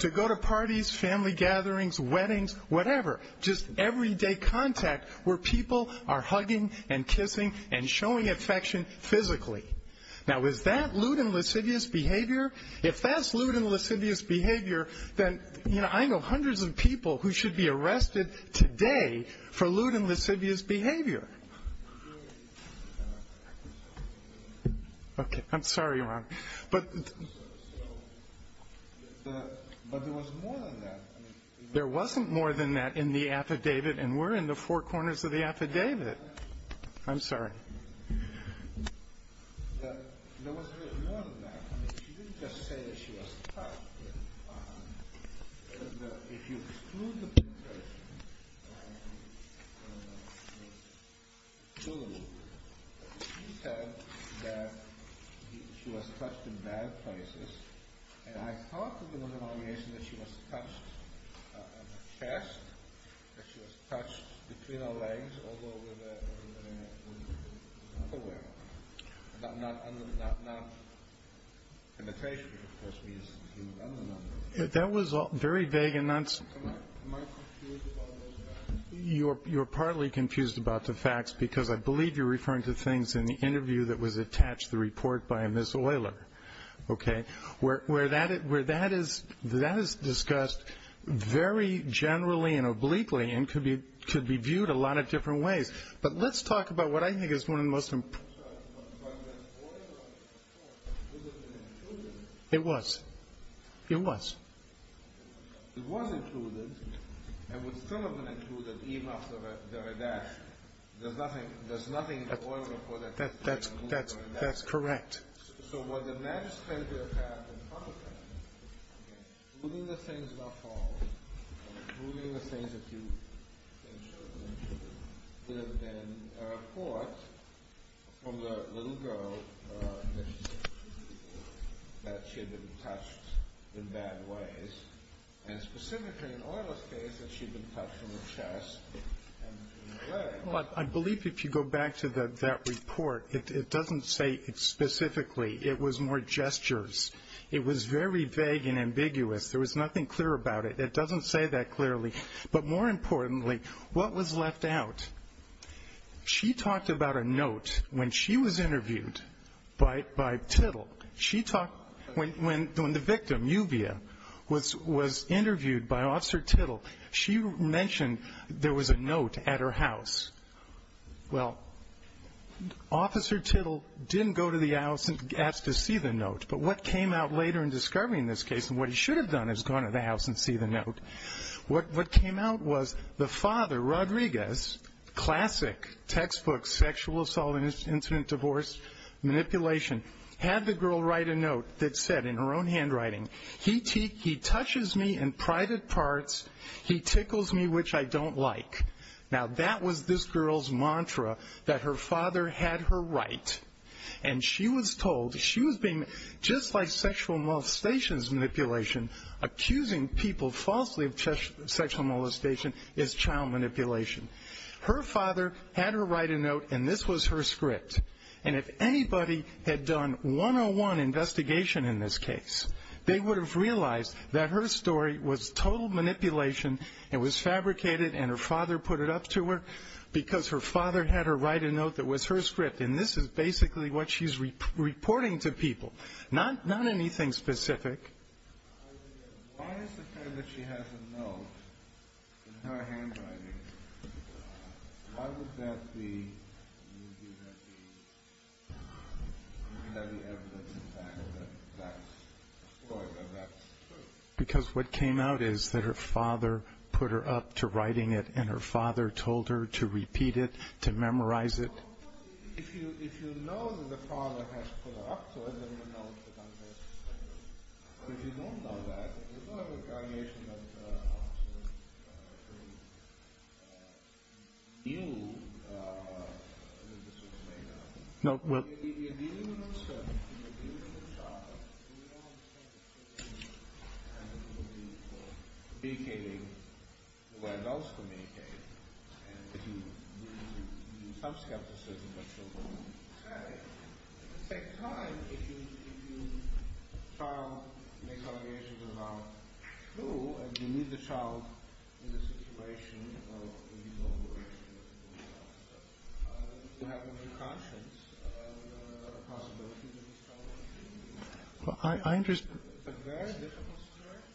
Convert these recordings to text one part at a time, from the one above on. to go to parties, family gatherings, weddings, whatever. Just everyday contact where people are hugging and kissing and showing affection physically. Now is that lewd and lascivious behavior? If that's lewd and lascivious behavior, then I know hundreds of people who should be arrested today for lewd and lascivious behavior. Okay, I'm sorry, Your Honor. But there was more than that. There wasn't more than that in the affidavit, and we're in the four corners of the affidavit. I'm sorry. There was more than that. I mean, she didn't just say that she was touched. If you exclude the penetration, you said that she was touched in bad places. And I thought in the denomination that she was touched on the chest, that she was touched between her legs, although we're not aware. But not penetration, which of course means she was under an underarm. That was very vague and nonsensical. Am I confused about those facts? You are partly confused about the facts because I believe you're referring to things in the interview that was attached to the report by Ms. Oyler. Okay? Where that is discussed very generally and obliquely and could be viewed a lot of different ways. But let's talk about what I think is one of the most important. It was. It was. It was included and would still have been included even after the redaction. There's nothing in the Oyler report that says she was removed or redacted. That's correct. So what the magistrate would have had in front of them, including the things not followed, including the things that you mentioned, would have been a report from the little girl that she had been touched in bad ways. And specifically in Oyler's case, that she had been touched on the chest and between the legs. I believe if you go back to that report, it doesn't say specifically. It was more gestures. It was very vague and ambiguous. There was nothing clear about it. It doesn't say that clearly. But more importantly, what was left out? She talked about a note when she was interviewed by Tittle. When the victim, Yuvia, was interviewed by Officer Tittle, she mentioned there was a note at her house. Well, Officer Tittle didn't go to the house and ask to see the note. But what came out later in discovering this case and what he should have done is gone to the house and see the note. What came out was the father, Rodriguez, classic textbook sexual assault incident divorce manipulation, had the girl write a note that said in her own handwriting, He touches me in private parts. He tickles me, which I don't like. Now, that was this girl's mantra that her father had her right. And she was told she was being, just like sexual molestation's manipulation, accusing people falsely of sexual molestation is child manipulation. Her father had her write a note, and this was her script. And if anybody had done one-on-one investigation in this case, they would have realized that her story was total manipulation. It was fabricated, and her father put it up to her because her father had her write a note that was her script. And this is basically what she's reporting to people, not anything specific. Why is it that she has a note in her handwriting? Why would that be evidence in fact that that's true? Because what came out is that her father put her up to writing it, and her father told her to repeat it, to memorize it.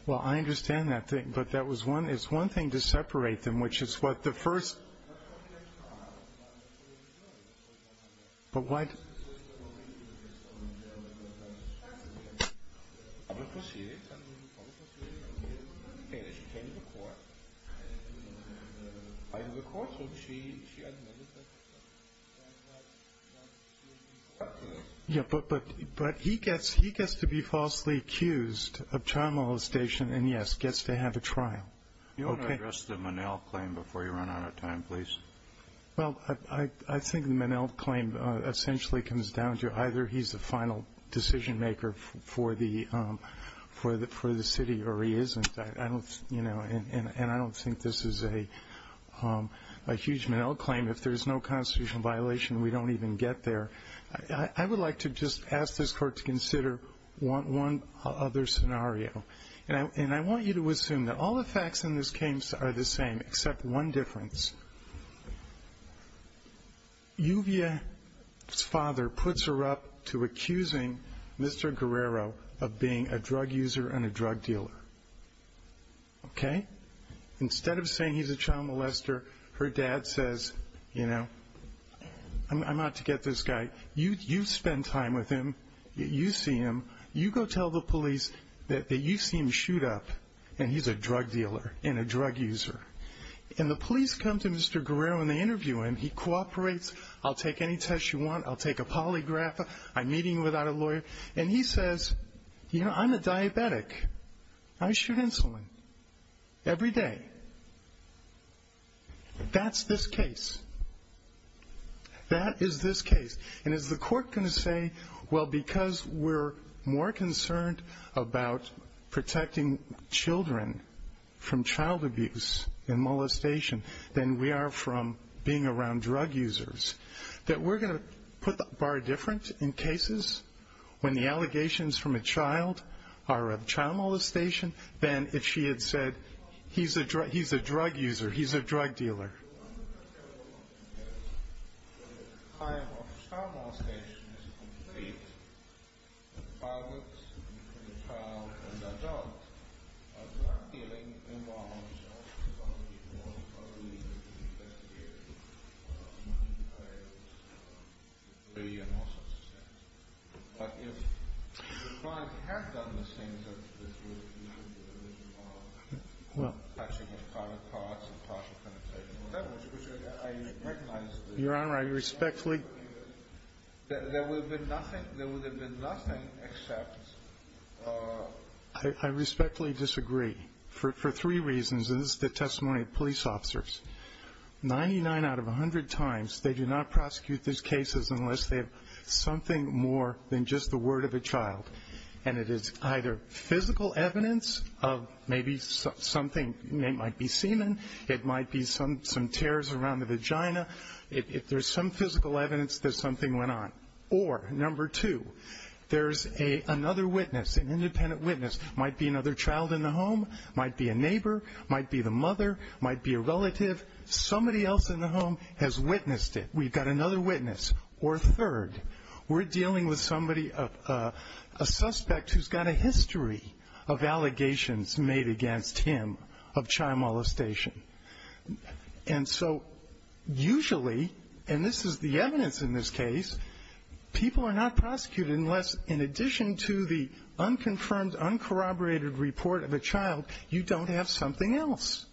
Well, I understand that, but it's one thing to separate them, which is what the first – but what – but he gets to be falsely accused of child molestation and, yes, gets to have a trial. Do you want to address the Minnell claim before you run out of time, please? Well, I think the Minnell claim essentially comes down to either he's the final decision-maker for the city or he isn't. I don't – and I don't think this is a huge Minnell claim. If there's no constitutional violation, we don't even get there. I would like to just ask this Court to consider one other scenario. And I want you to assume that all the facts in this case are the same except one difference. Yuvia's father puts her up to accusing Mr. Guerrero of being a drug user and a drug dealer, okay? Instead of saying he's a child molester, her dad says, you know, I'm out to get this guy. You spend time with him. You see him. You go tell the police that you see him shoot up and he's a drug dealer and a drug user. And the police come to Mr. Guerrero and they interview him. He cooperates. I'll take any test you want. I'll take a polygraph. I'm meeting you without a lawyer. And he says, you know, I'm a diabetic. I shoot insulin every day. That's this case. That is this case. And is the Court going to say, well, because we're more concerned about protecting children from child abuse and molestation than we are from being around drug users, that we're going to put the bar different in cases when the allegations from a child are of child molestation than if she had said he's a drug user, he's a drug dealer? The time of child molestation is complete. The father, the child, and the adult are drug dealing involved. Some of the people are legal investigators. But if the client had done the things that this would usually do, I recognize that there would have been nothing except ---- I respectfully disagree for three reasons, and this is the testimony of police officers. Ninety-nine out of 100 times, they do not prosecute these cases unless they have something more than just the word of a child. And it is either physical evidence of maybe something. It might be semen. It might be some tears around the vagina. If there's some physical evidence that something went on. Or number two, there's another witness, an independent witness. It might be another child in the home. It might be a neighbor. It might be the mother. It might be a relative. Somebody else in the home has witnessed it. We've got another witness. We're dealing with somebody, a suspect who's got a history of allegations made against him of child molestation. And so usually, and this is the evidence in this case, people are not prosecuted unless, in addition to the unconfirmed, uncorroborated report of a child, you don't have something else.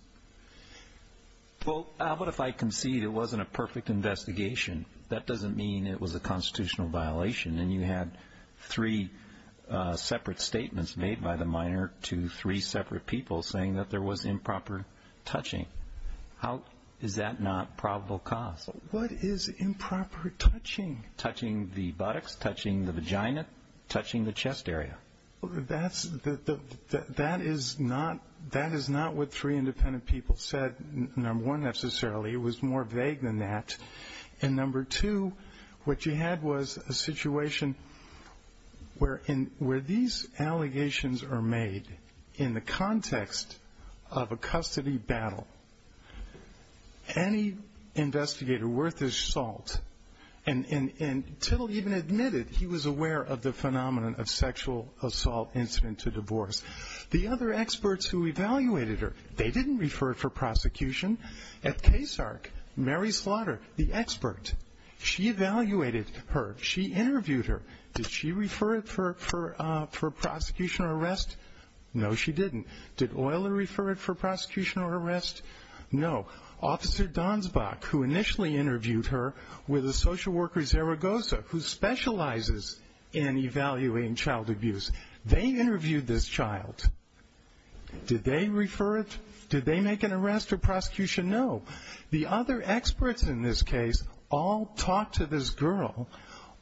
Well, but if I concede it wasn't a perfect investigation, that doesn't mean it was a constitutional violation. And you had three separate statements made by the minor to three separate people saying that there was improper touching. How is that not probable cause? What is improper touching? Touching the buttocks, touching the vagina, touching the chest area. That is not what three independent people said, number one, necessarily. It was more vague than that. And number two, what you had was a situation where these allegations are made in the context of a custody battle. Any investigator worth his salt, and Tittle even admitted he was aware of the phenomenon of sexual assault incident to divorce. The other experts who evaluated her, they didn't refer it for prosecution. At KSARC, Mary Slaughter, the expert, she evaluated her. She interviewed her. Did she refer it for prosecution or arrest? No, she didn't. Did Euler refer it for prosecution or arrest? No. Officer Donsbach, who initially interviewed her with a social worker, Zaragoza, who specializes in evaluating child abuse, they interviewed this child. Did they refer it? Did they make an arrest or prosecution? No. The other experts in this case all talked to this girl,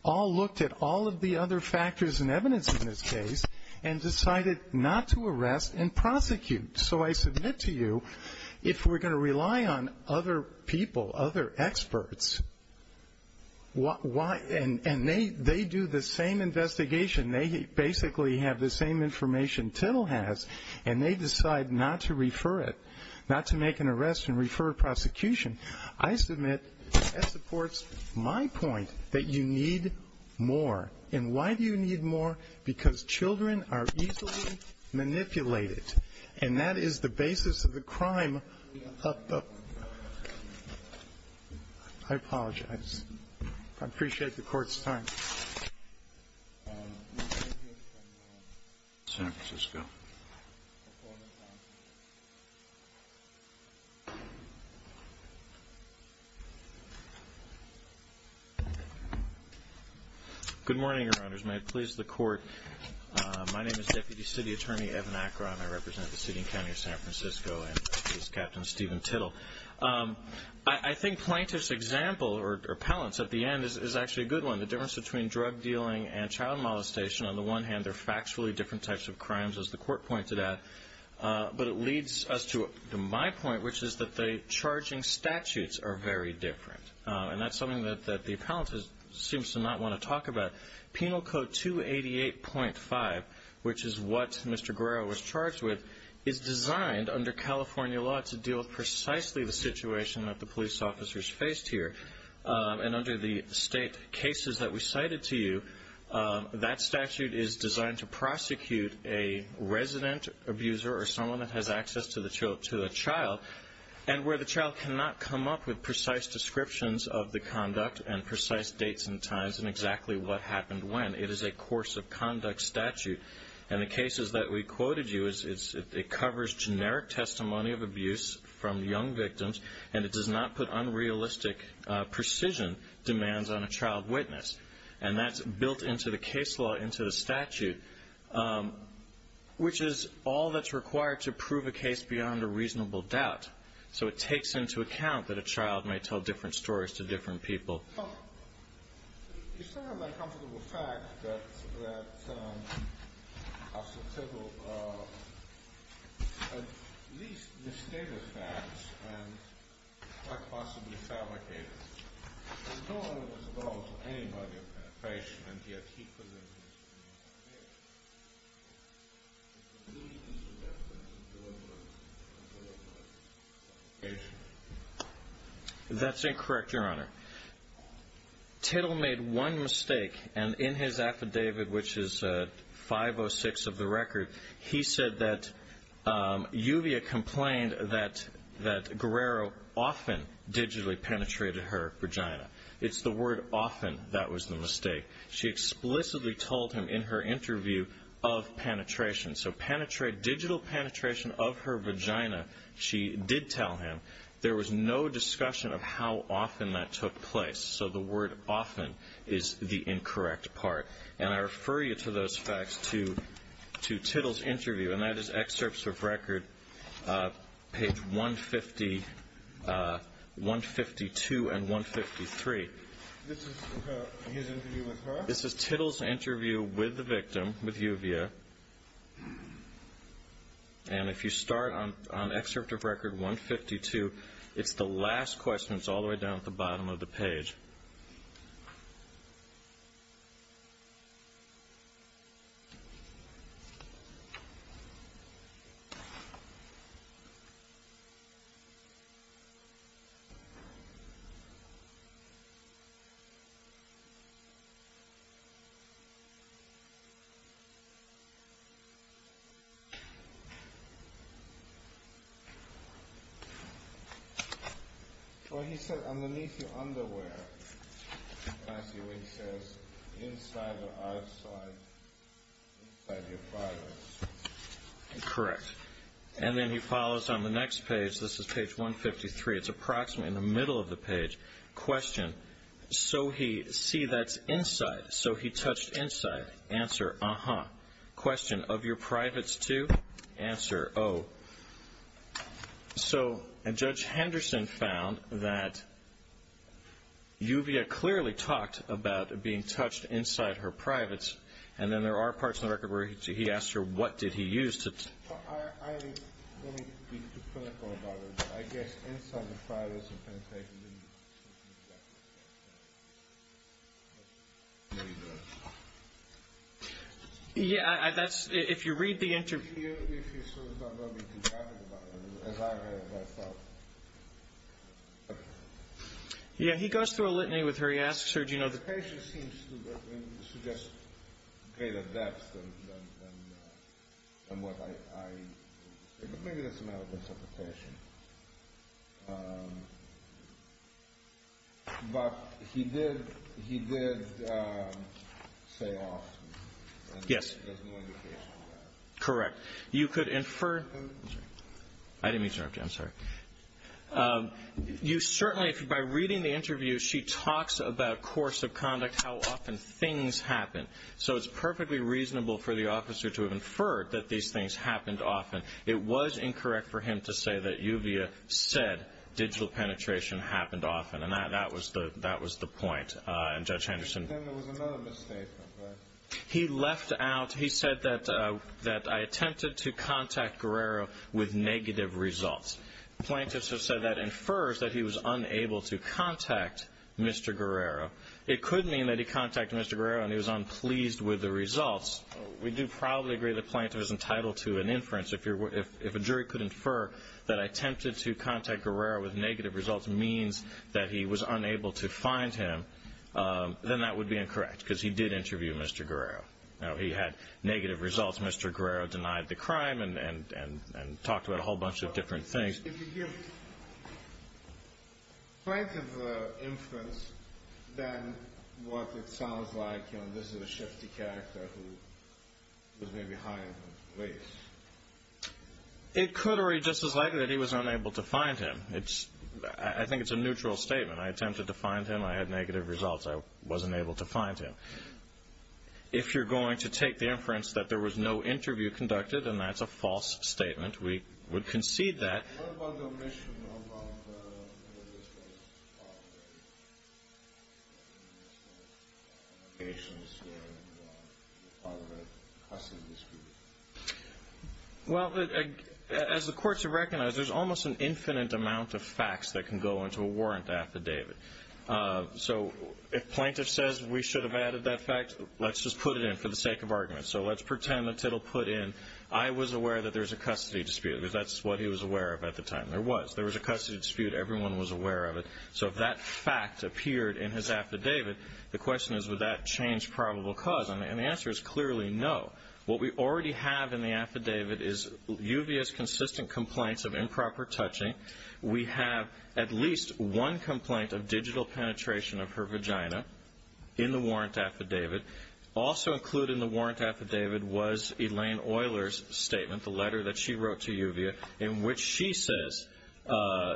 all looked at all of the other factors and evidence in this case, and decided not to arrest and prosecute. So I submit to you, if we're going to rely on other people, other experts, and they do the same investigation, they basically have the same information Tittle has, and they decide not to refer it, not to make an arrest and refer it to prosecution, I submit that supports my point that you need more. And why do you need more? Because children are easily manipulated. And that is the basis of the crime of the ---- I apologize. I appreciate the Court's time. Thank you. Good morning, Your Honors. May it please the Court. My name is Deputy City Attorney Evan Akron. I represent the city and county of San Francisco, and this is Captain Steven Tittle. I think plaintiff's example or appellant's at the end is actually a good one. The difference between drug dealing and child molestation, on the one hand, they're factually different types of crimes, as the Court pointed out, but it leads us to my point, which is that the charging statutes are very different. And that's something that the appellant seems to not want to talk about. Penal Code 288.5, which is what Mr. Guerrero was charged with, is designed under California law to deal with precisely the situation that the police officers faced here. And under the state cases that we cited to you, that statute is designed to prosecute a resident abuser or someone that has access to a child and where the child cannot come up with precise descriptions of the conduct and precise dates and times and exactly what happened when. It is a course of conduct statute. And the cases that we quoted you, it covers generic testimony of abuse from young victims, and it does not put unrealistic precision demands on a child witness. And that's built into the case law, into the statute, which is all that's required to prove a case beyond a reasonable doubt. So it takes into account that a child may tell different stories to different people. It's not an uncomfortable fact that a certificate of at least misstated facts and quite possibly fabricated, is no longer disclosed to anybody, a patient, and yet he presents it as being fabricated. That's incorrect, Your Honor. Tittle made one mistake, and in his affidavit, which is 506 of the record, he said that Yuvia complained that Guerrero often digitally penetrated her vagina. It's the word often that was the mistake. She explicitly told him in her interview of penetration. So digital penetration of her vagina, she did tell him. There was no discussion of how often that took place. So the word often is the incorrect part. And I refer you to those facts to Tittle's interview, and that is excerpts of record page 152 and 153. This is his interview with her? This is Tittle's interview with the victim, with Yuvia. And if you start on excerpt of record 152, it's the last question. It's all the way down at the bottom of the page. Well, he said, underneath your underwear. I see what he says. Inside or outside? Inside your father's. Correct. And then he follows on the next page. This is page 153. It's approximately in the middle of the page. Question. So he see that's inside. So he touched inside. Answer. Uh-huh. Question. Of your privates, too? Answer. Oh. So Judge Henderson found that Yuvia clearly talked about being touched inside her privates. And then there are parts of the record where he asked her what did he use. Well, I don't want to be too clinical about it, but I guess inside the privates and penetrated didn't touch. Yeah, that's, if you read the interview. If you sort of don't want to be too graphic about it, as I have, I thought. Yeah, he goes through a litany with her. He asks her, do you know the... It actually seems to suggest greater depth than what I, maybe that's a matter of interpretation. But he did say off. Yes. There's no indication of that. Correct. You could infer. I didn't mean to interrupt you. I'm sorry. You certainly, by reading the interview, she talks about course of conduct, how often things happen. So it's perfectly reasonable for the officer to have inferred that these things happened often. It was incorrect for him to say that Yuvia said digital penetration happened often. And that was the point. And Judge Henderson... But then there was another mistake. He left out, he said that I attempted to contact Guerrero with negative results. Plaintiffs have said that infers that he was unable to contact Mr. Guerrero. It could mean that he contacted Mr. Guerrero and he was unpleased with the results. We do probably agree that plaintiff is entitled to an inference. If a jury could infer that I attempted to contact Guerrero with negative results means that he was unable to find him, then that would be incorrect because he did interview Mr. Guerrero. He had negative results. Mr. Guerrero denied the crime and talked about a whole bunch of different things. If you give plaintiff an inference, then what it sounds like, you know, this is a shifty character who was maybe high in the race. It could be just as likely that he was unable to find him. I think it's a neutral statement. I attempted to find him. I had negative results. I wasn't able to find him. If you're going to take the inference that there was no interview conducted, then that's a false statement. We would concede that. Well, as the courts have recognized, there's almost an infinite amount of facts that can go into a warrant affidavit. So if plaintiff says we should have added that fact, let's just put it in for the sake of argument. So let's pretend that it'll put in I was aware that there was a custody dispute because that's what he was aware of at the time. There was. There was a custody dispute. Everyone was aware of it. So if that fact appeared in his affidavit, the question is would that change probable cause? And the answer is clearly no. What we already have in the affidavit is uvious, consistent complaints of improper touching. We have at least one complaint of digital penetration of her vagina in the warrant affidavit. Also included in the warrant affidavit was Elaine Euler's statement, the letter that she wrote to UVA, in which she says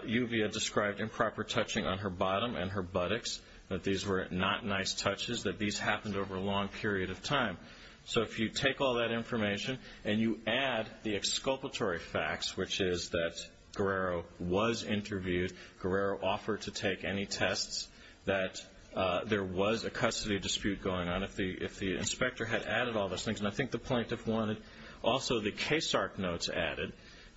UVA described improper touching on her bottom and her buttocks, that these were not nice touches, that these happened over a long period of time. So if you take all that information and you add the exculpatory facts, which is that Guerrero was interviewed, Guerrero offered to take any tests, that there was a custody dispute going on if the inspector had added all those things. And I think the plaintiff wanted also the case arc notes added.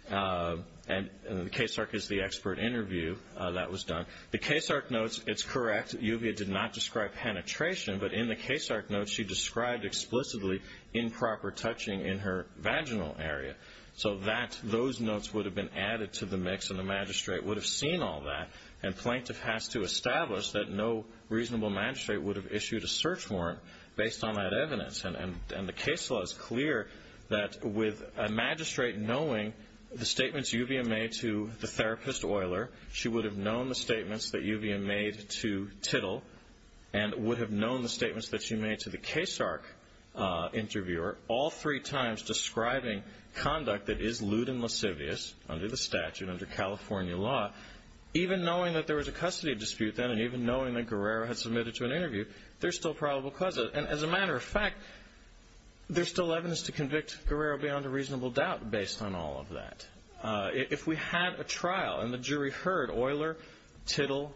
And the case arc is the expert interview that was done. The case arc notes, it's correct, UVA did not describe penetration. But in the case arc notes, she described explicitly improper touching in her vaginal area. So those notes would have been added to the mix, and the magistrate would have seen all that. And plaintiff has to establish that no reasonable magistrate would have issued a search warrant based on that evidence. And the case law is clear that with a magistrate knowing the statements UVA made to the therapist, Euler, she would have known the statements that UVA made to Tittle and would have known the statements that she made to the case arc interviewer, all three times describing conduct that is lewd and lascivious under the statute, under California law, even knowing that there was a custody dispute then and even knowing that Guerrero had submitted to an interview, there's still probable cause. And as a matter of fact, there's still evidence to convict Guerrero beyond a reasonable doubt based on all of that. If we had a trial and the jury heard Euler, Tittle,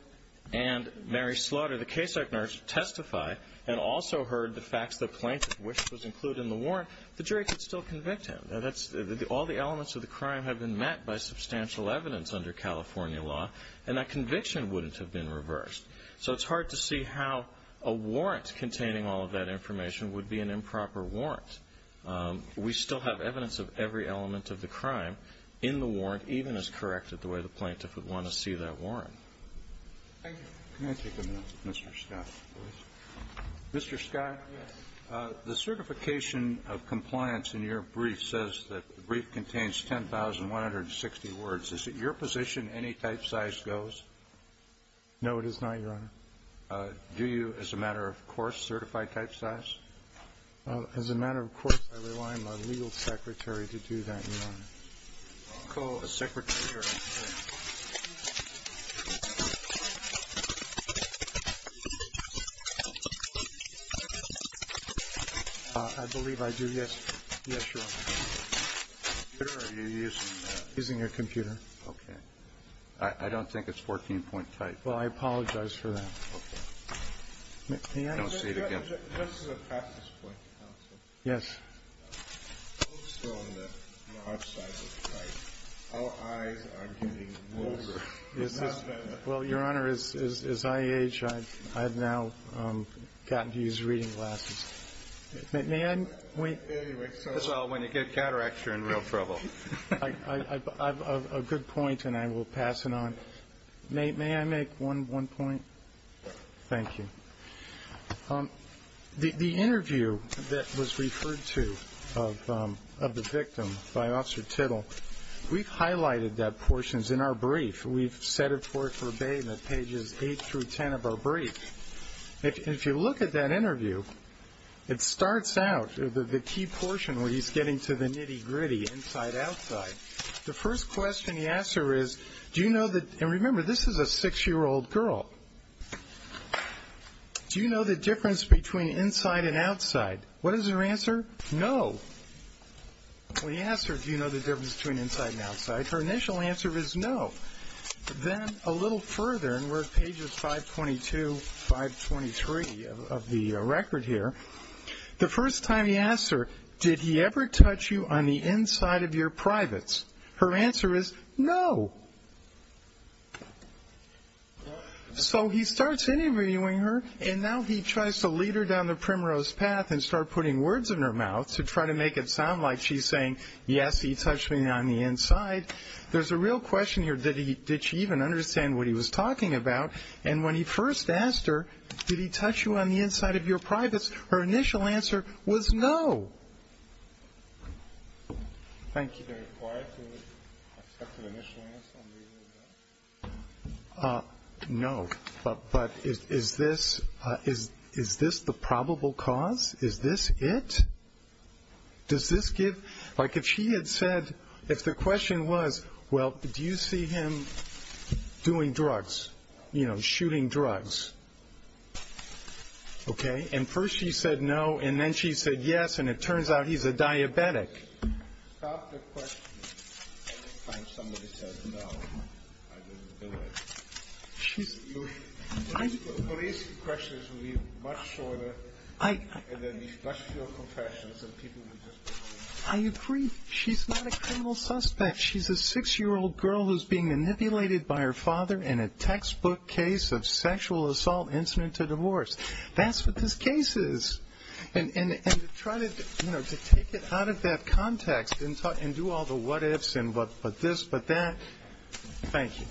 and Mary Slaughter, the case arc nurse, testify and also heard the facts that plaintiff wished was included in the warrant, the jury could still convict him. All the elements of the crime have been met by substantial evidence under California law, and that conviction wouldn't have been reversed. So it's hard to see how a warrant containing all of that information would be an improper warrant. We still have evidence of every element of the crime in the warrant, even as corrected the way the plaintiff would want to see that warrant. Thank you. Can I take a minute with Mr. Scott, please? Mr. Scott? Yes. The certification of compliance in your brief says that the brief contains 10,160 words. Is it your position any type size goes? No, it is not, Your Honor. Do you, as a matter of course, certify type size? As a matter of course, I rely on my legal secretary to do that, Your Honor. A secretary? I believe I do, yes. Yes, Your Honor. Are you using a computer? Okay. I don't think it's 14-point type. Well, I apologize for that. Okay. This is a practice point, counsel. Yes. Our eyes are getting longer. Well, Your Honor, as I age, I have now gotten to use reading glasses. When you get a cataract, you're in real trouble. A good point, and I will pass it on. May I make one point? Thank you. The interview that was referred to of the victim by Officer Tittle, we've highlighted that portions in our brief. We've set it forth verbatim at pages 8 through 10 of our brief. If you look at that interview, it starts out, the key portion where he's getting to the nitty-gritty, inside-outside. The first question he asks her is, do you know that, and remember, this is a six-year-old girl, do you know the difference between inside and outside? What is her answer? No. When he asks her, do you know the difference between inside and outside, her initial answer is no. Then a little further, and we're at pages 522, 523 of the record here, the first time he asks her, did he ever touch you on the inside of your privates? Her answer is no. So he starts interviewing her, and now he tries to lead her down the primrose path and start putting words in her mouth to try to make it sound like she's saying, yes, he touched me on the inside. There's a real question here, did she even understand what he was talking about? And when he first asked her, did he touch you on the inside of your privates, her initial answer was no. Thank you. Very quiet with respect to the initial answer. No. But is this the probable cause? Is this it? Does this give ñ like if she had said, if the question was, well, do you see him doing drugs, you know, shooting drugs, okay, and first she said no, and then she said yes, and it turns out he's a diabetic. Stop the question. Anytime somebody says no, I don't do it. Police questions will be much shorter, and there will be much fewer confessions of people who just don't know. I agree. She's not a criminal suspect. She's a six-year-old girl who's being manipulated by her father in a textbook case of sexual assault incident to divorce. That's what this case is. And to try to, you know, to take it out of that context and do all the what ifs and but this, but that, thank you.